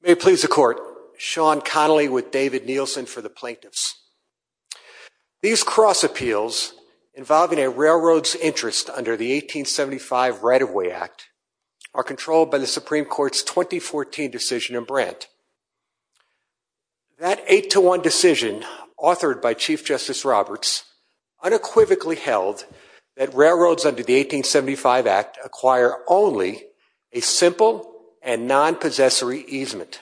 May it please the Court, Sean Connolly with David Nielsen for the Plaintiffs. These cross appeals involving a railroad's interest under the 1875 Right-of-Way Act are controlled by the Supreme Court's 2014 decision in Brandt. That 8-1 decision, authored by Chief Justice Roberts, unequivocally held that railroads under the 1875 Act acquire only a simple and non-possessory easement.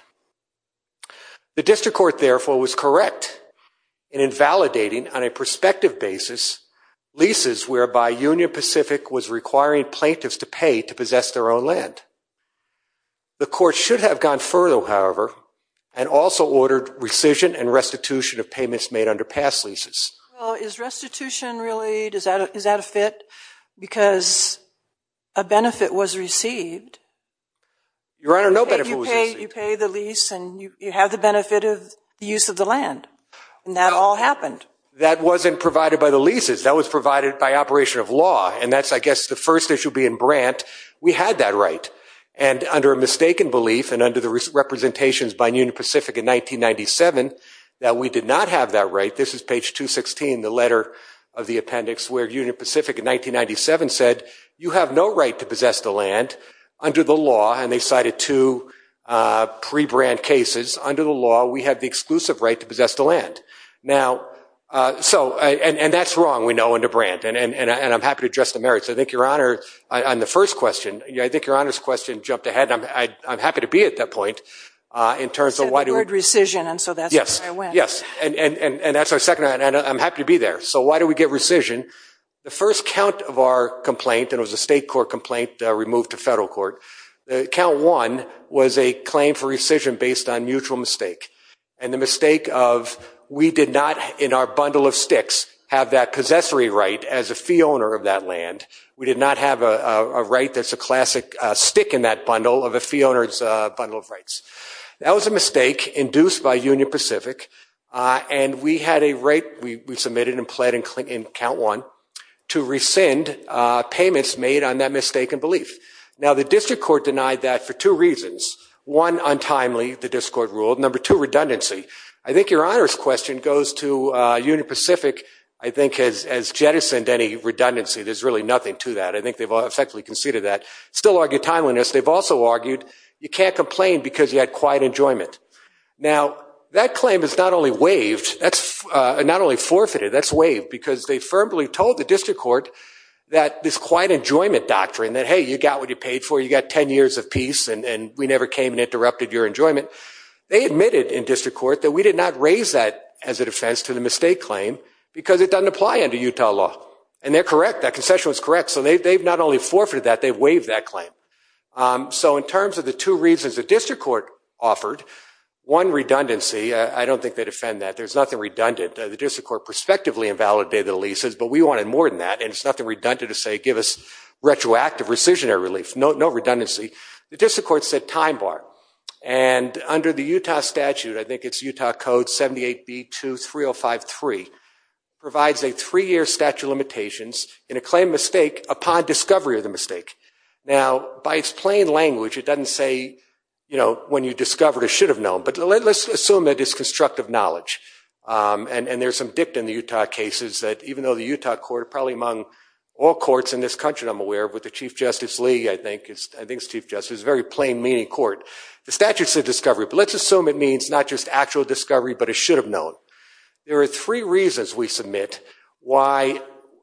The District Court, therefore, was correct in invalidating, on a prospective basis, leases whereby Union Pacific was requiring plaintiffs to pay to possess their own land. The Court should have gone further, however, and also ordered rescission and restitution of payments made under past leases. Well, is restitution really, is that a fit? Because a benefit was received. Your Honor, no benefit was received. You pay the lease and you have the benefit of the use of the land. And that all happened. That wasn't provided by the leases. That was provided by operation of law. And that's, I guess, the first issue being Brandt. We had that right. And under a mistaken belief, and under the representations by Union Pacific in 1997, that we did not have that right. This is page 216, the letter of the appendix, where Union Pacific in 1997 said, you have no right to possess the land under the law. And they cited two pre-Brandt cases. Under the law, we have the exclusive right to possess the land. Now, so, and that's wrong, we know, under Brandt. And I'm happy to address the merits. I think Your Honor, on the first question, I think Your Honor's question jumped ahead. And I'm happy to be at that point in terms of why do we. So the word rescission, and so that's where I went. Yes, and that's our second, and I'm happy to be there. So why do we get rescission? The first count of our complaint, and it was a state court complaint removed to federal court, count one was a claim for rescission based on mutual mistake. And the mistake of, we did not, in our bundle of sticks, have that possessory right as a fee owner of that land. We did not have a right that's a classic stick in that bundle of a fee owner's bundle of rights. That was a mistake induced by Union Pacific, and we had a right, we submitted and pled in count one, to rescind payments made on that mistaken belief. Now, the district court denied that for two reasons. One, untimely, the district court ruled. Number two, redundancy. I think Your Honor's question goes to Union Pacific, I think has jettisoned any redundancy. There's really nothing to that. I think they've effectively conceded that. Still argue timeliness. They've also argued, you can't complain because you had quiet enjoyment. Now, that claim is not only waived, not only forfeited, that's waived, because they firmly told the district court that this quiet enjoyment doctrine, that hey, you got what you paid for, you got 10 years of peace, and we never came and interrupted your enjoyment. They admitted in district court that we did not raise that as a defense to the mistake claim, because it doesn't apply under Utah law. And they're correct, that concession was correct. So they've not only forfeited that, they've waived that claim. So in terms of the two reasons the district court offered, one, redundancy. I don't think they defend that. There's nothing redundant. The district court prospectively invalidated the leases, but we wanted more than that. And it's nothing redundant to say, give us retroactive rescissionary relief. No redundancy. The district court said time bar. And under the Utah statute, I think it's Utah code 78B23053, provides a three-year statute of limitations in a claim mistake upon discovery of the mistake. Now, by its plain language, it doesn't say when you discover it, it should have known. But let's assume that it's constructive knowledge. And there's some dip in the Utah cases that even though the Utah court, probably among all courts in this country I'm aware of, with the Chief Justice Lee, I think it's Chief Justice, it's a very plain-meaning court. The statute's a discovery, but let's assume it means not just actual discovery, but it should have known. There are three reasons we submit why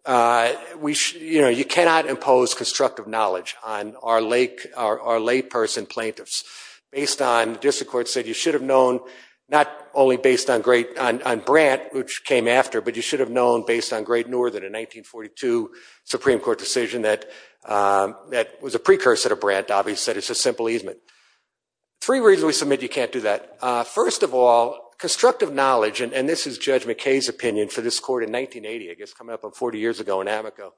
you cannot impose constructive knowledge on our layperson plaintiffs. Based on, the district court said you should have known, not only based on Brandt, which came after, but you should have known based on Great Northern, a 1942 Supreme Court decision that was a precursor to Brandt. Obviously, it's a simple easement. Three reasons we submit you can't do that. First of all, constructive knowledge, and this is Judge McKay's opinion for this court in 1980, I guess, coming up on 40 years ago in Amico,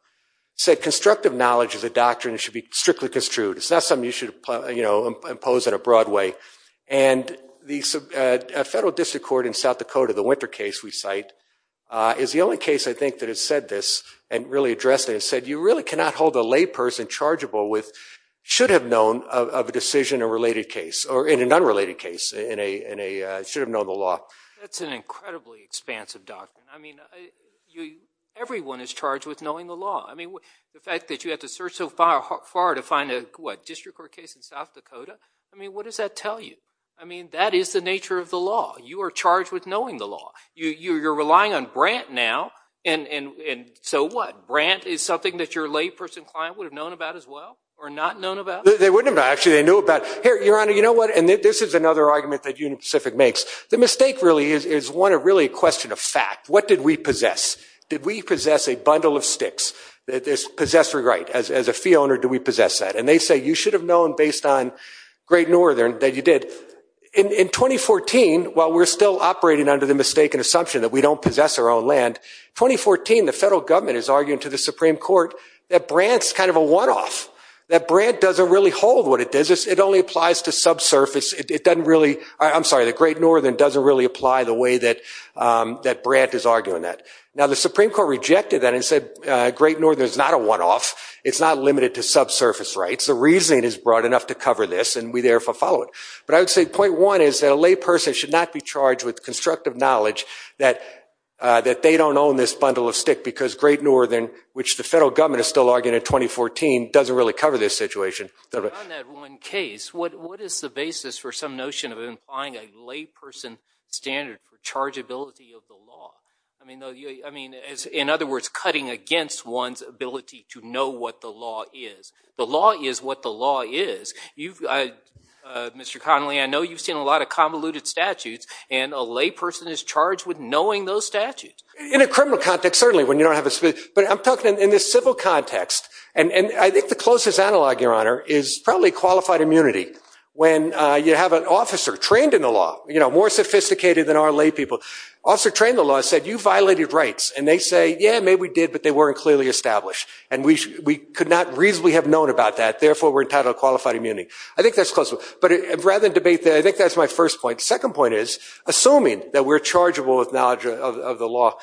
said constructive knowledge is a doctrine that should be strictly construed. It's not something you should impose in a broad way. And the federal district court in South Dakota, the Winter case we cite, is the only case, I think, that has said this and really addressed it, and said you really cannot hold a layperson chargeable with should have known of a decision in a related case, or in an unrelated case, in a should have known the law. That's an incredibly expansive doctrine. I mean, everyone is charged with knowing the law. I mean, the fact that you have to search so far to find a, what, district court case in South Dakota? I mean, what does that tell you? I mean, that is the nature of the law. You are charged with knowing the law. You're relying on Brandt now, and so what? Brandt is something that your layperson client would have known about as well, or not known about? They wouldn't have, actually. They knew about it. Your Honor, you know what? And this is another argument that Union Pacific makes. The mistake, really, is really a question of fact. What did we possess? Did we possess a bundle of sticks? Did this possessor right? As a fee owner, do we possess that? And they say, you should have known based on Great Northern that you did. In 2014, while we're still operating under the mistaken assumption that we don't possess our own land, 2014, the federal government is arguing to the Supreme Court that Brandt's kind of a one off, that Brandt doesn't really hold what it does. It only applies to subsurface. It doesn't really, I'm sorry, that Great Northern doesn't really apply the way that Brandt is arguing that. Now, the Supreme Court rejected that and said, Great Northern is not a one off. It's not limited to subsurface rights. The reasoning is broad enough to cover this, and we therefore follow it. But I would say point one is that a layperson should not be charged with constructive knowledge that they don't own this bundle of stick, because Great Northern, which the federal government is still arguing in 2014, doesn't really cover this situation. On that one case, what is the basis for some notion of implying a layperson standard for chargeability of the law? I mean, in other words, cutting against one's ability to know what the law is. The law is what the law is. Mr. Connolly, I know you've seen a lot of convoluted statutes, and a layperson is charged with knowing those statutes. In a criminal context, certainly, when you don't have a split. But I'm talking in this civil context. And I think the closest analog, Your Honor, is probably qualified immunity. When you have an officer trained in the law, more sophisticated than our laypeople, officer trained in the law said, you violated rights. And they say, yeah, maybe we did, but they weren't clearly established. And we could not reasonably have known about that. Therefore, we're entitled to qualified immunity. I think that's close. But rather than debate that, I think that's my first point. Second point is, assuming that we're chargeable with knowledge of the law,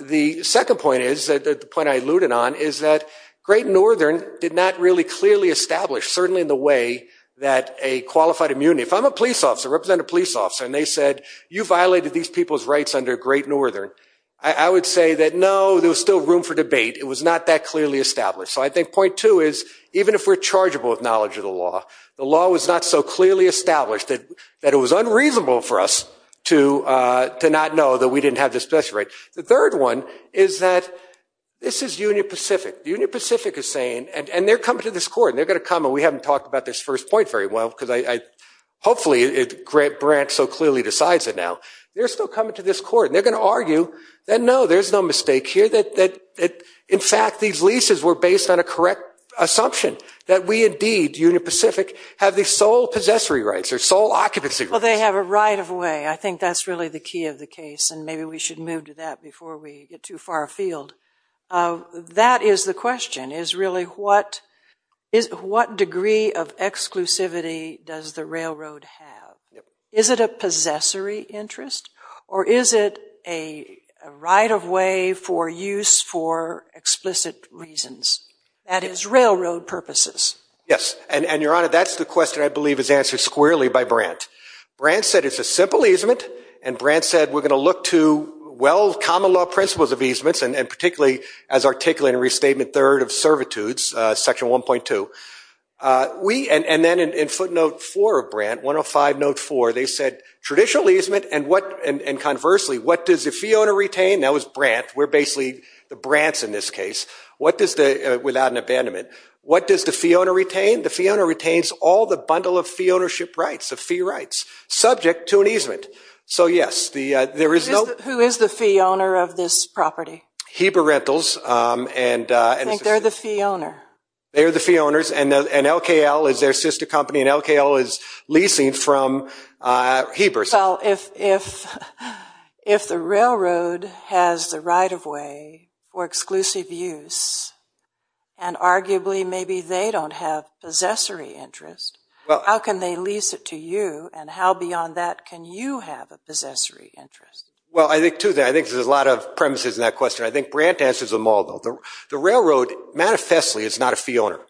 the second point is, the point I alluded on, is that Great Northern did not really clearly establish, certainly in the way that a qualified immunity. If I'm a police officer, represent a police officer, and they said, you violated these people's rights under Great Northern, I would say that, no, there was still room for debate. It was not that clearly established. So I think point two is, even if we're chargeable with knowledge of the law, the law was not so clearly established that it was unreasonable for us to not know that we didn't have this special right. The third one is that this is Union Pacific. Union Pacific is saying, and they're coming to this court. And they're going to come, and we haven't talked about this first point very well, because hopefully, Grant so clearly decides it now. They're still coming to this court. And they're going to argue that, no, there's no mistake here. In fact, these leases were based on a correct assumption, that we, indeed, Union Pacific, have the sole possessory rights or sole occupancy rights. Well, they have a right of way. I think that's really the key of the case. And maybe we should move to that before we get too far afield. That is the question, is really, what degree of exclusivity does the railroad have? Is it a possessory interest? Or is it a right of way for use for explicit reasons? That is, railroad purposes. Yes, and Your Honor, that's the question, I believe, is answered squarely by Brandt. Brandt said it's a simple easement. And Brandt said, we're going to look to, well, common law principles of easements, and particularly, as articulated in Restatement 3rd of Servitudes, Section 1.2. And then in footnote 4 of Brandt, 105 note 4, they said, traditional easement, and conversely, what does the fee owner retain? That was Brandt. We're basically the Brandts in this case, without an abandonment. What does the fee owner retain? The fee owner retains all the bundle of fee ownership rights, of fee rights, subject to an easement. So yes, there is no. Who is the fee owner of this property? Heber Rentals. And I think they're the fee owner. They're the fee owners, and LKL is their sister company. And LKL is leasing from Heber. So if the railroad has the right of way for exclusive use, and arguably, maybe they don't have possessory interest, how can they lease it to you? And how beyond that can you have a possessory interest? Well, I think, too, there's a lot of premises in that question. I think Brandt answers them all, though. The railroad, manifestly, is not a fee owner.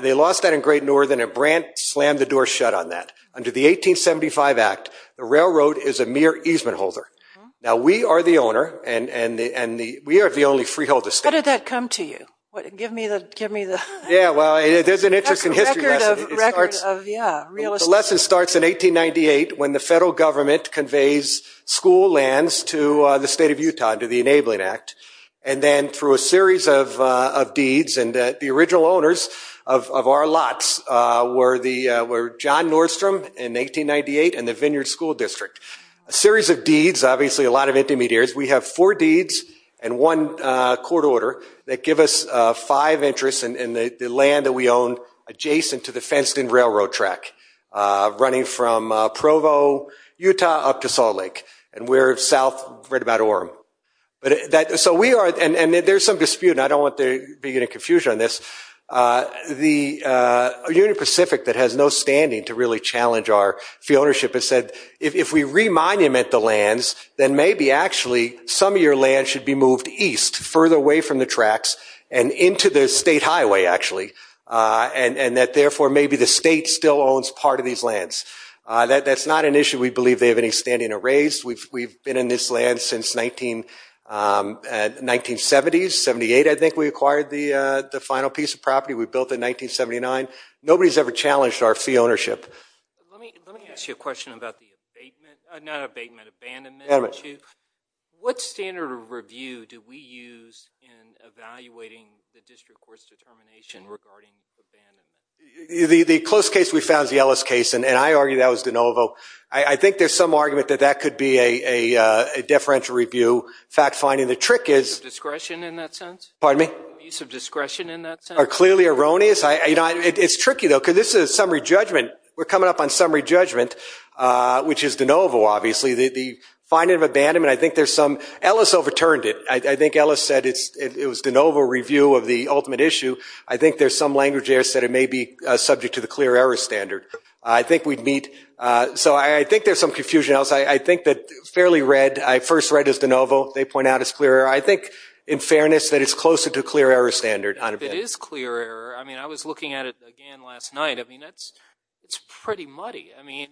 They lost that in Great Northern, and Brandt slammed the door shut on that. Under the 1875 Act, the railroad is a mere easement holder. Now, we are the owner, and we are the only freeholder state. How did that come to you? Give me the. Yeah, well, there's an interesting history lesson. The lesson starts in 1898, when the federal government conveys school lands to the state of Utah under the Enabling Act, and then through a series of deeds. And the original owners of our lots were John Nordstrom in 1898 and the Vineyard School District. A series of deeds, obviously, a lot of intermediaries. We have four deeds and one court order that give us five interests in the land that we own adjacent to the fenced-in railroad track, running from Provo, Utah, up to Salt Lake. And we're south, right about Orem. So we are, and there's some dispute, and I don't want there to be any confusion on this. The Union Pacific, that has no standing to really challenge our fee ownership, has said, if we remonument the lands, then maybe, actually, some of your land should be moved east, further away from the tracks, and into the state highway, actually. And that, therefore, maybe the state still owns part of these lands. That's not an issue. We believe they have any standing to raise. We've been in this land since 1970s, 78, I think we acquired the final piece of property we built in 1979. Nobody's ever challenged our fee ownership. Let me ask you a question about the abatement, not abatement, abandonment issue. What standard of review do we use in evaluating the district court's determination regarding abandonment? The close case we found is the Ellis case, and I argue that was DeNovo. I think there's some argument that that could be a deferential review. Fact finding, the trick is. Use of discretion, in that sense? Pardon me? Use of discretion, in that sense? Are clearly erroneous. It's tricky, though, because this is a summary judgment. We're coming up on summary judgment, which is DeNovo, obviously. The finding of abandonment, I think there's some. Ellis overturned it. I think Ellis said it was DeNovo review of the ultimate issue. I think there's some language there that said it may be subject to the clear error standard. I think we'd meet. So I think there's some confusion. I think that fairly red, I first read as DeNovo. They point out it's clear error. I think, in fairness, that it's closer to clear error standard. It is clear error. I mean, I was looking at it again last night. I mean, it's pretty muddy. I mean,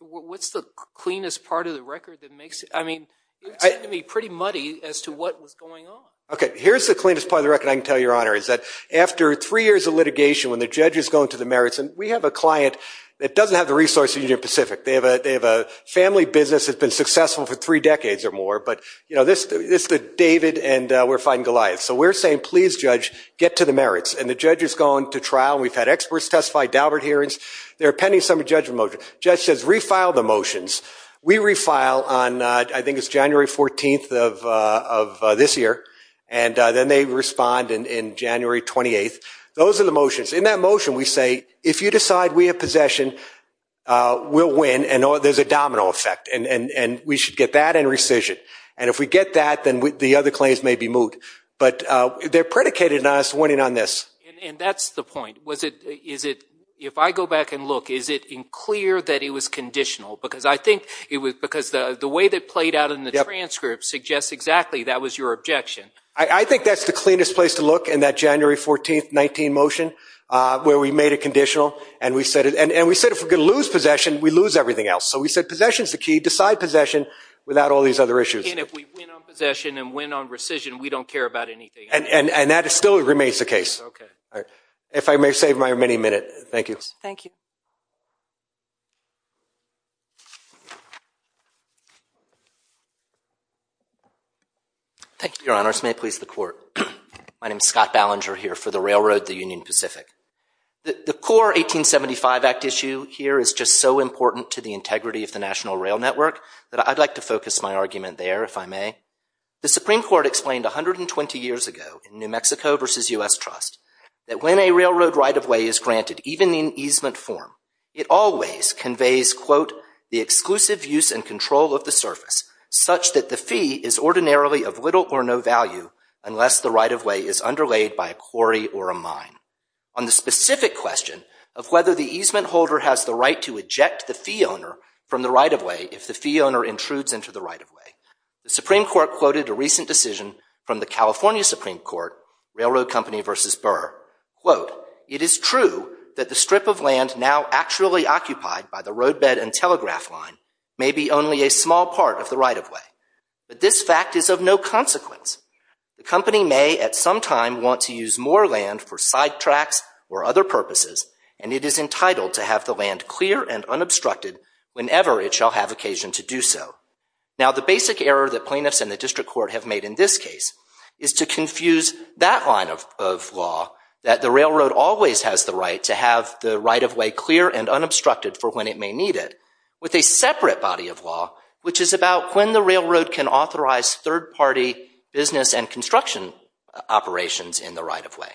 what's the cleanest part of the record that makes it? I mean, it seemed to me pretty muddy as to what was going on. OK, here's the cleanest part of the record I can tell you, Your Honor, is that after three years of litigation, when the judge is going to the merits, and we have a client that doesn't have the resources in the Union Pacific. They have a family business that's been successful for three decades or more. But this is David, and we're fighting Goliath. So we're saying, please, Judge, get to the merits. And the judge is going to trial. We've had experts testify, Daubert hearings. They're appending some of the judgment motions. Judge says, refile the motions. We refile on, I think it's January 14 of this year. And then they respond in January 28. Those are the motions. In that motion, we say, if you decide we have possession, we'll win. And there's a domino effect. And we should get that and rescission. And if we get that, then the other claims may be moved. But they're predicated on us winning on this. And that's the point. If I go back and look, is it clear that it was conditional? Because the way that played out in the transcript suggests exactly that was your objection. I think that's the cleanest place to look in that January 14, 19 motion, where we made it conditional. And we said, if we're going to lose possession, we lose everything else. So we said, possession is the key. Decide possession without all these other issues. And if we win on possession and win on rescission, we don't care about anything. And that still remains the case. If I may save my many minute. Thank you. Thank you. Thank you, Your Honors. May it please the Court. My name's Scott Ballinger here for the Railroad, the Union Pacific. The core 1875 Act issue here is just so important to the integrity of the National Rail Network that I'd like to focus my argument there, if I may. The Supreme Court explained 120 years ago in New Mexico versus US Trust that when a railroad right-of-way is granted, even in easement form, it always conveys, quote, the exclusive use and control of the surface, such that the fee is ordinarily of little or no value unless the right-of-way is underlayed by a quarry or a mine. On the specific question of whether the easement holder has the right to eject the fee owner from the right-of-way if the fee owner intrudes into the right-of-way, the Supreme Court quoted a recent decision from the California Supreme Court, Railroad Company versus Burr, quote, it is true that the strip of land now actually occupied by the roadbed and telegraph line may be only a small part of the right-of-way. But this fact is of no consequence. The company may, at some time, want to use more land for sidetracks or other purposes, and it is entitled to have the land clear and unobstructed whenever it shall have occasion to do so. Now, the basic error that plaintiffs and the district court have made in this case is to confuse that line of law, that the railroad always has the right to have the right-of-way clear and unobstructed for when it may need it, with a separate body of law, which is about when the railroad can authorize third-party business and construction operations in the right-of-way.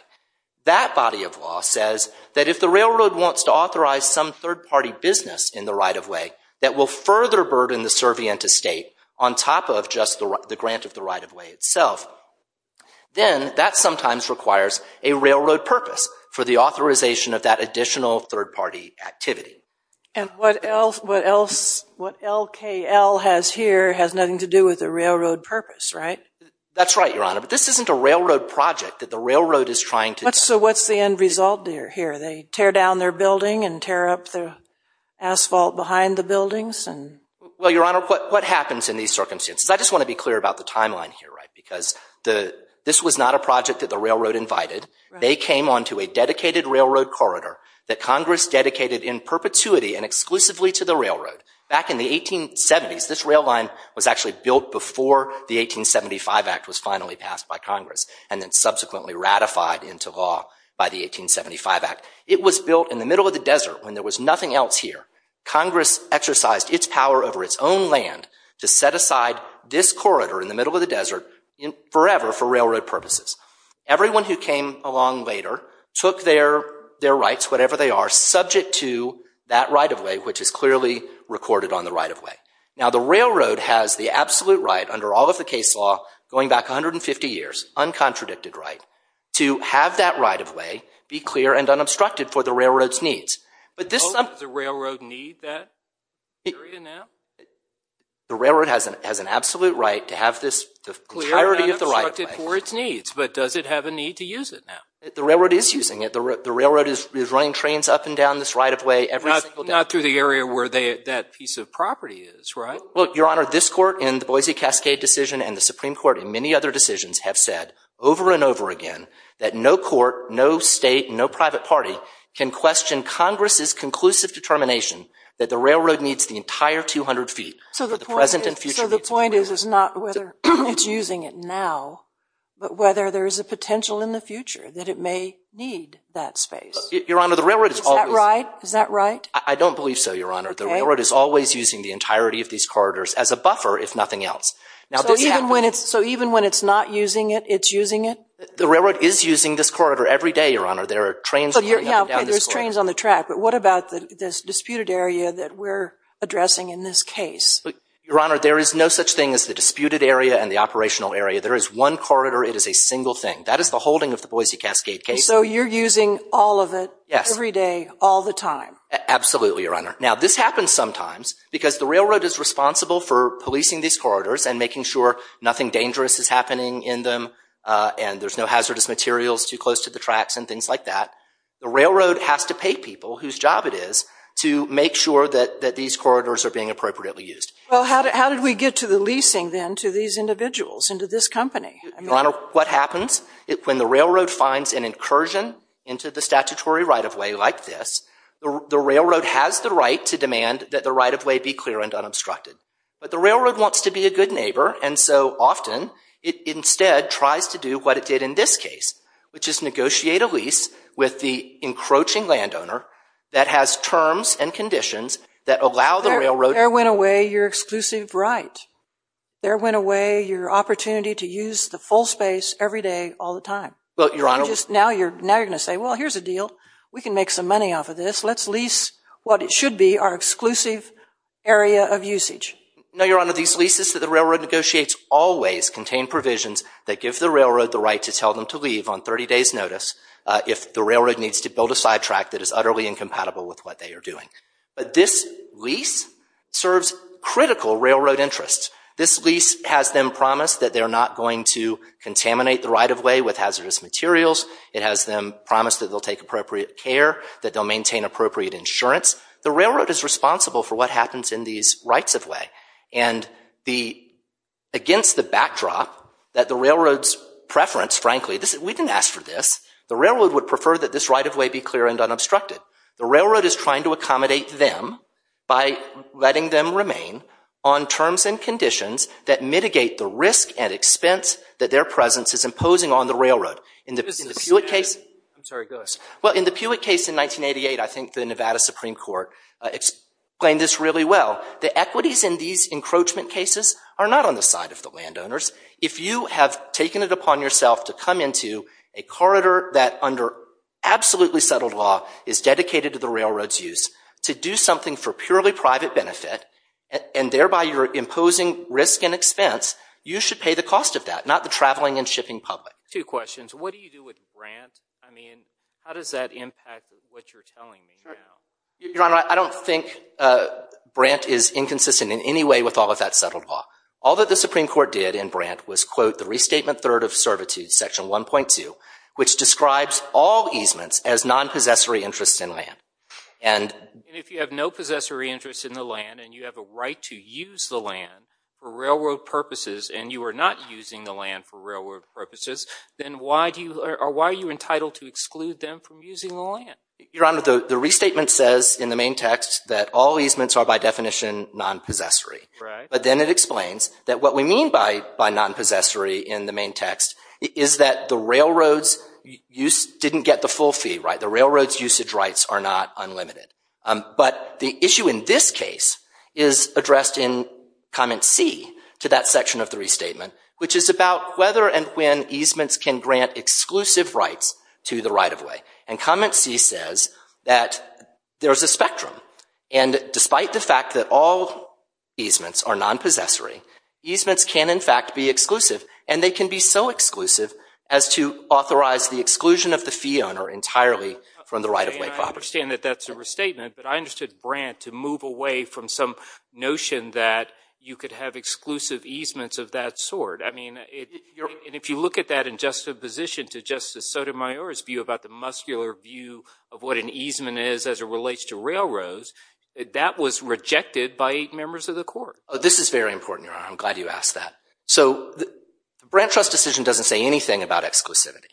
That body of law says that if the railroad wants to authorize some third-party business in the right-of-way that will further burden the servient estate on top of just the grant of the right-of-way itself, then that sometimes requires a railroad purpose for the authorization of that additional third-party activity. And what LKL has here has nothing to do with the railroad purpose, right? That's right, Your Honor. But this isn't a railroad project that the railroad is trying to do. So what's the end result here? They tear down their building and tear up their asphalt behind the buildings? Well, Your Honor, what happens in these circumstances? I just want to be clear about the timeline here, because this was not a project that the railroad invited. They came onto a dedicated railroad corridor that Congress dedicated in perpetuity and exclusively to the railroad. Back in the 1870s, this rail line was actually built before the 1875 Act was finally passed by Congress, and then subsequently ratified into law by the 1875 Act. It was built in the middle of the desert, when there was nothing else here. Congress exercised its power over its own land to set aside this corridor in the middle of the desert forever for railroad purposes. Everyone who came along later took their rights, whatever they are, subject to that right-of-way, which is clearly recorded on the right-of-way. Now, the railroad has the absolute right, under all of the case law, going back 150 years, uncontradicted right, to have that right-of-way be clear and unobstructed for the railroad's needs. But this is a railroad need that area now? The railroad has an absolute right to have this entirety of the right-of-way. Clear and unobstructed for its needs, but does it have a need to use it now? The railroad is using it. The railroad is running trains up and down this right-of-way every single day. Not through the area where that piece of property is, right? Well, Your Honor, this court in the Boise Cascade decision and the Supreme Court in many other decisions have said over and over again that no court, no state, no private party, can question Congress's conclusive determination that the railroad needs the entire 200 feet for the present and future needs of the railroad. So the point is not whether it's using it now, but whether there is a potential in the future that it may need that space? Your Honor, the railroad is always- Is that right? I don't believe so, Your Honor. The railroad is always using the entirety of these corridors as a buffer, if nothing else. So even when it's not using it, it's using it? The railroad is using this corridor every day, Your Honor. There are trains running up and down this way. There's trains on the track. But what about this disputed area that we're addressing in this case? Your Honor, there is no such thing as the disputed area and the operational area. There is one corridor. It is a single thing. That is the holding of the Boise Cascade case. So you're using all of it every day, all the time? Absolutely, Your Honor. Now, this happens sometimes, because the railroad is responsible for policing these corridors and making sure nothing dangerous is happening in them. And there's no hazardous materials too close to the tracks and things like that. The railroad has to pay people whose job it is to make sure that these corridors are being appropriately used. Well, how did we get to the leasing, then, to these individuals, into this company? Your Honor, what happens? When the railroad finds an incursion into the statutory right-of-way like this, the railroad has the right to demand that the right-of-way be clear and unobstructed. But the railroad wants to be a good neighbor. And so often, it instead tries to do what it did in this case, which is negotiate a lease with the encroaching landowner that has terms and conditions that allow the railroad to- There went away your exclusive right. There went away your opportunity to use the full space every day, all the time. Well, Your Honor- Now you're going to say, well, here's a deal. We can make some money off of this. Let's lease what it should be, our exclusive area of usage. No, Your Honor. These leases that the railroad negotiates always contain provisions that give the railroad the right to tell them to leave on 30 days' notice if the railroad needs to build a sidetrack that is utterly incompatible with what they are doing. But this lease serves critical railroad interests. This lease has them promise that they're not going to contaminate the right-of-way with hazardous materials. It has them promise that they'll take appropriate care, that they'll maintain appropriate insurance. The railroad is responsible for what happens in these rights-of-way. And against the backdrop that the railroad's preference, frankly, we didn't ask for this. The railroad would prefer that this right-of-way be clear and unobstructed. The railroad is trying to accommodate them by letting them remain on terms and conditions that mitigate the risk and expense that their presence is imposing on the railroad. In the Pulet case- I'm sorry, go ahead. Well, in the Pulet case in 1988, I think the Nevada Supreme Court explained this really well. The equities in these encroachment cases are not on the side of the landowners. If you have taken it upon yourself to come into a corridor that, under absolutely settled law, is dedicated to the railroad's use, to do something for purely private benefit, and thereby you're imposing risk and expense, you should pay the cost of that, not the traveling and shipping public. Two questions. What do you do with Brandt? I mean, how does that impact what you're telling me now? Your Honor, I don't think Brandt is inconsistent in any way with all of that settled law. All that the Supreme Court did in Brandt was quote the Restatement Third of Servitude, Section 1.2, which describes all easements as non-possessory interests in land. And if you have no possessory interest in the land, and you have a right to use the land for railroad purposes, and you are not using the land for railroad purposes, then why are you entitled to exclude them from using the land? Your Honor, the Restatement says in the main text that all easements are, by definition, non-possessory. But then it explains that what we mean by non-possessory in the main text is that the railroads didn't get the full fee, right? The railroad's usage rights are not unlimited. But the issue in this case is addressed in Comment C to that section of the Restatement, which is about whether and when easements can grant exclusive rights to the right of way. And Comment C says that there is a spectrum. And despite the fact that all easements are non-possessory, easements can, in fact, be exclusive. And they can be so exclusive as to authorize the exclusion of the fee owner entirely from the right of way property. I understand that that's a restatement. But I understood Brandt to move away from some notion that you could have exclusive easements of that sort. I mean, if you look at that in juxtaposition to Justice Sotomayor's view about the muscular view of what an easement is as it relates to railroads, that was rejected by members of the court. This is very important, Your Honor. I'm glad you asked that. So the Brandt trust decision doesn't say anything about exclusivity.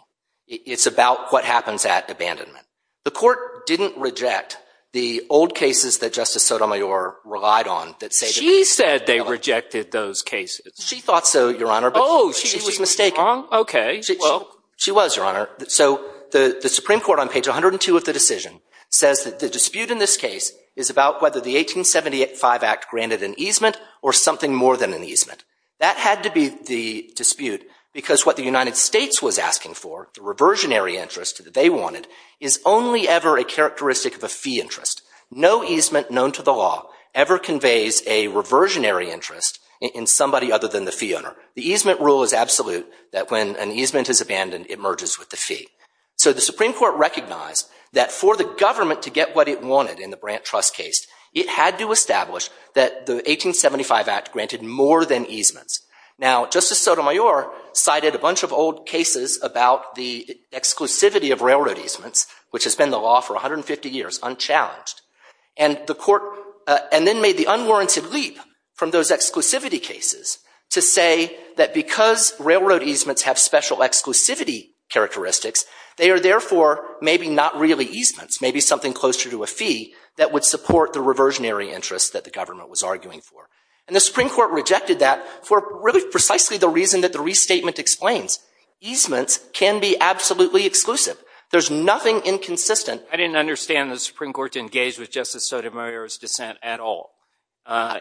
It's about what happens at abandonment. The court didn't reject the old cases that Justice Sotomayor relied on that say that they could be She said they rejected those cases. She thought so, Your Honor, but she was mistaken. OK, well. She was, Your Honor. So the Supreme Court on page 102 of the decision says that the dispute in this case is about whether the 1875 Act granted an easement or something more than an easement. That had to be the dispute because what the United States was asking for, the reversionary interest that they wanted, is only ever a characteristic of a fee interest. No easement known to the law ever conveys a reversionary interest in somebody other than the fee owner. The easement rule is absolute that when an easement is abandoned, it merges with the fee. So the Supreme Court recognized that for the government to get what it wanted in the Brandt trust case, it had to establish that the 1875 Act granted more than easements. Now, Justice Sotomayor cited a bunch of old cases about the exclusivity of railroad easements, which has been the law for 150 years, unchallenged. And the court then made the unwarranted leap from those exclusivity cases to say that because railroad easements have special exclusivity characteristics, they are therefore maybe not really easements, maybe something closer to a fee that would support the reversionary interest that the government was arguing for. And the Supreme Court rejected that for really precisely the reason that the restatement explains. Easements can be absolutely exclusive. There's nothing inconsistent. I didn't understand the Supreme Court to engage with Justice Sotomayor's dissent at all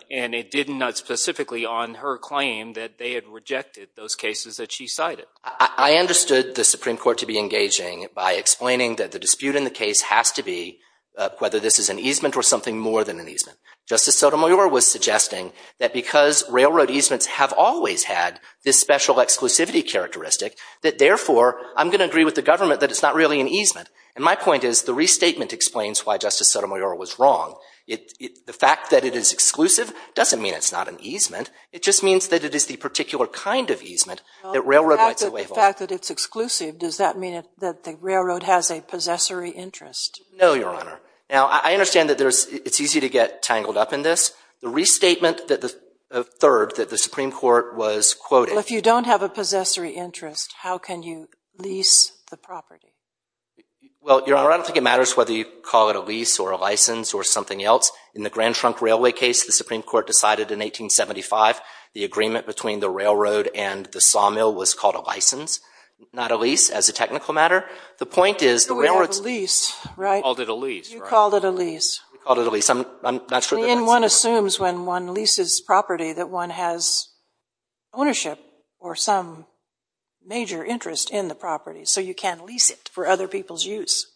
and it did not specifically on her claim that they had rejected those cases that she cited. I understood the Supreme Court to be engaging by explaining that the dispute in the case has to be whether this is an easement or something more than an easement. Justice Sotomayor was suggesting that because railroad easements have always had this special exclusivity characteristic, that therefore I'm going to agree with the government that it's not really an easement. And my point is the restatement explains why Justice Sotomayor was wrong. The fact that it is exclusive doesn't mean it's not an easement. It just means that it is the particular kind of easement that railroad rights are labeled. The fact that it's exclusive, does that mean that the railroad has a possessory interest? No, Your Honor. Now, I understand that it's easy to get tangled up in this. The restatement that the third, that the Supreme Court was quoting. Well, if you don't have a possessory interest, how can you lease the property? Well, Your Honor, I don't think it matters whether you call it a lease or a license or something else. In the Grand Trunk Railway case, the Supreme Court decided in 1875, the agreement between the railroad and the sawmill was called a license, not a lease, as a technical matter. The point is the railroad's- We have a lease, right? We called it a lease. You called it a lease. We called it a lease. I'm not sure that that's- And one assumes when one leases property that one has ownership or some major interest in the property. So you can't lease it for other people's use.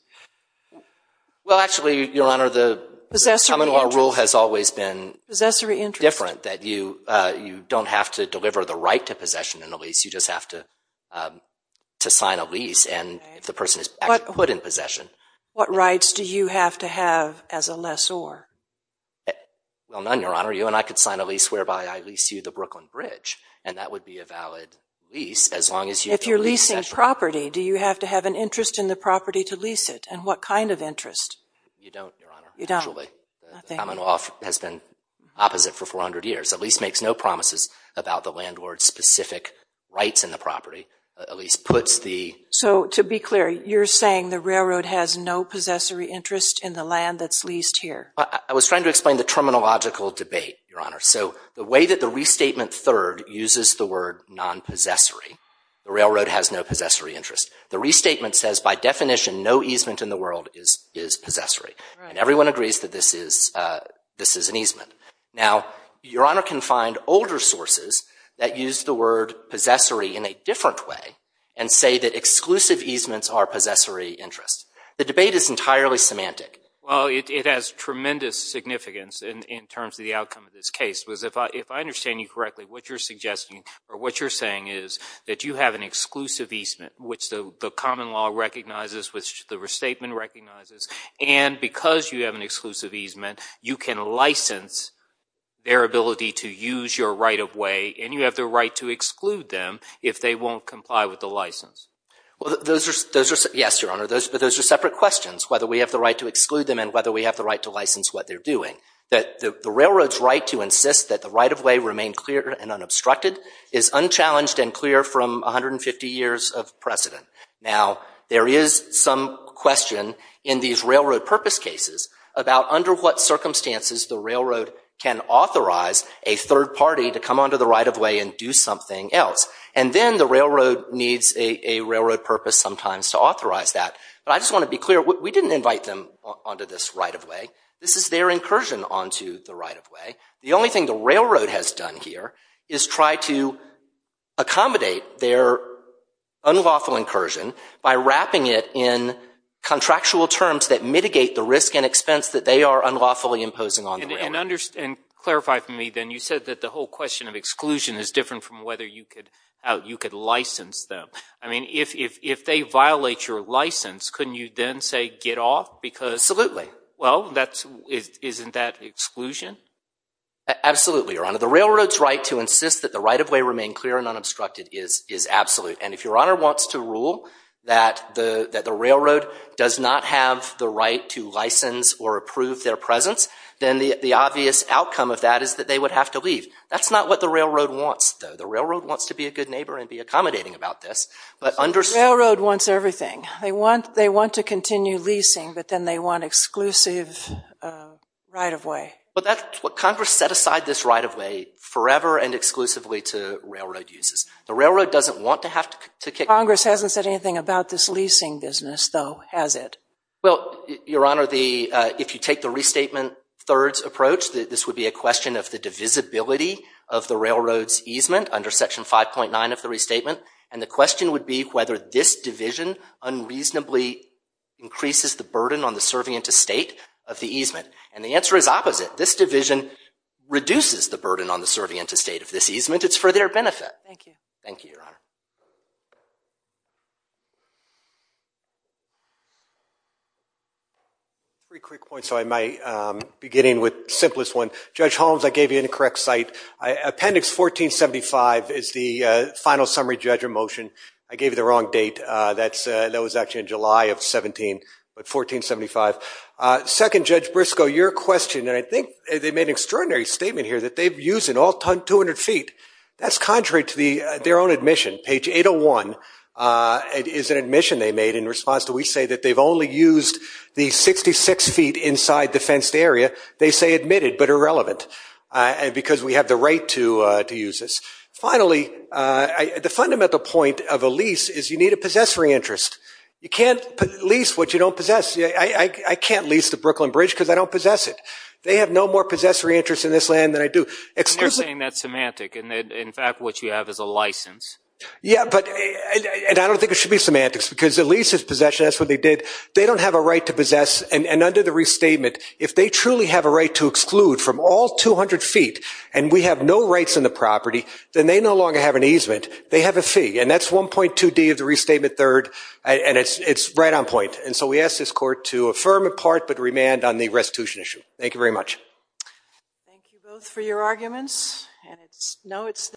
Well, actually, Your Honor, the common law rule has always been different, that you don't have to deliver the right to possession in a lease. You just have to sign a lease. And if the person is actually put in possession- What rights do you have to have as a lessor? Well, none, Your Honor. You and I could sign a lease whereby I lease you the Brooklyn Bridge. And that would be a valid lease, as long as you- If you're leasing property, do you have to have an interest in the property to lease it? And what kind of interest? You don't, Your Honor. You don't? Actually, the common law has been opposite for 400 years. A lease makes no promises about the landlord's specific rights in the property. A lease puts the- So to be clear, you're saying the railroad has no possessory interest in the land that's leased here? I was trying to explain the terminological debate, Your Honor. So the way that the restatement third uses the word non-possessory, the railroad has no possessory interest. The restatement says, by definition, no easement in the world is possessory. And everyone agrees that this is an easement. Now, Your Honor can find older sources that use the word possessory in a different way and say that exclusive easements are possessory interests. The debate is entirely semantic. Well, it has tremendous significance in terms of the outcome of this case. Because if I understand you correctly, what you're suggesting or what you're saying is that you have an exclusive easement, which the common law recognizes, which the restatement recognizes. And because you have an exclusive easement, you can license their ability to use your right-of-way. And you have the right to exclude them if they won't comply with the license. Well, those are separate questions, whether we have the right to exclude them and whether we have the right to license what they're doing. The railroad's right to insist that the right-of-way remain clear and unobstructed is unchallenged and clear from 150 years of precedent. Now, there is some question in these railroad purpose cases about under what circumstances the railroad can authorize a third party to come onto the right-of-way and do something else. And then the railroad needs a railroad purpose sometimes to authorize that. But I just want to be clear, we didn't invite them onto this right-of-way. This is their incursion onto the right-of-way. The only thing the railroad has done here is try to accommodate their unlawful incursion by wrapping it in contractual terms that mitigate the risk and expense that they are unlawfully imposing on the railroad. And clarify for me, then, you said that the whole question of exclusion is different from whether you could license them. I mean, if they violate your license, couldn't you then say, get off? Because, well, isn't that exclusion? Absolutely, Your Honor. The railroad's right to insist that the right-of-way remain clear and unobstructed is absolute. And if Your Honor wants to rule that the railroad does not have the right to license or approve their presence, then the obvious outcome of that is that they would have to leave. That's not what the railroad wants, though. The railroad wants to be a good neighbor and be accommodating about this. But under- The railroad wants everything. They want to continue leasing. But then they want exclusive right-of-way. But Congress set aside this right-of-way forever and exclusively to railroad uses. The railroad doesn't want to have to kick- Congress hasn't said anything about this leasing business, though, has it? Well, Your Honor, if you take the restatement thirds approach, this would be a question of the divisibility of the railroad's easement under Section 5.9 of the restatement. And the question would be whether this division unreasonably increases the burden on the serving interstate of the easement. And the answer is opposite. This division reduces the burden on the serving interstate of this easement. It's for their benefit. Thank you. Thank you, Your Honor. Three quick points, so I might begin with the simplest one. Judge Holmes, I gave you the incorrect site. Appendix 1475 is the final summary judge of motion. I gave you the wrong date. That was actually in July of 17, but 1475. Second, Judge Briscoe, your question, and I think they made an extraordinary statement here, that they've used it all 200 feet. That's contrary to their own admission. Page 801 is an admission they made in response to, we say that they've only used the 66 feet inside the fenced area. They say admitted, but irrelevant, because we have the right to use this. Finally, the fundamental point of a lease is you need a possessory interest. You can't lease what you don't possess. I can't lease the Brooklyn Bridge because I don't possess it. They have no more possessory interest in this land than I do. And they're saying that's semantic, and in fact, what you have is a license. Yeah, and I don't think it should be semantics, because the lease is possession. That's what they did. They don't have a right to possess, and under the restatement, if they truly have a right to exclude from all 200 feet, and we have no rights in the property, then they no longer have an easement. They have a fee, and that's 1.2D of the restatement third, and it's right on point. And so we ask this court to affirm in part, but remand on the restitution issue. Thank you very much. Thank you both for your arguments, and it's, no, it's.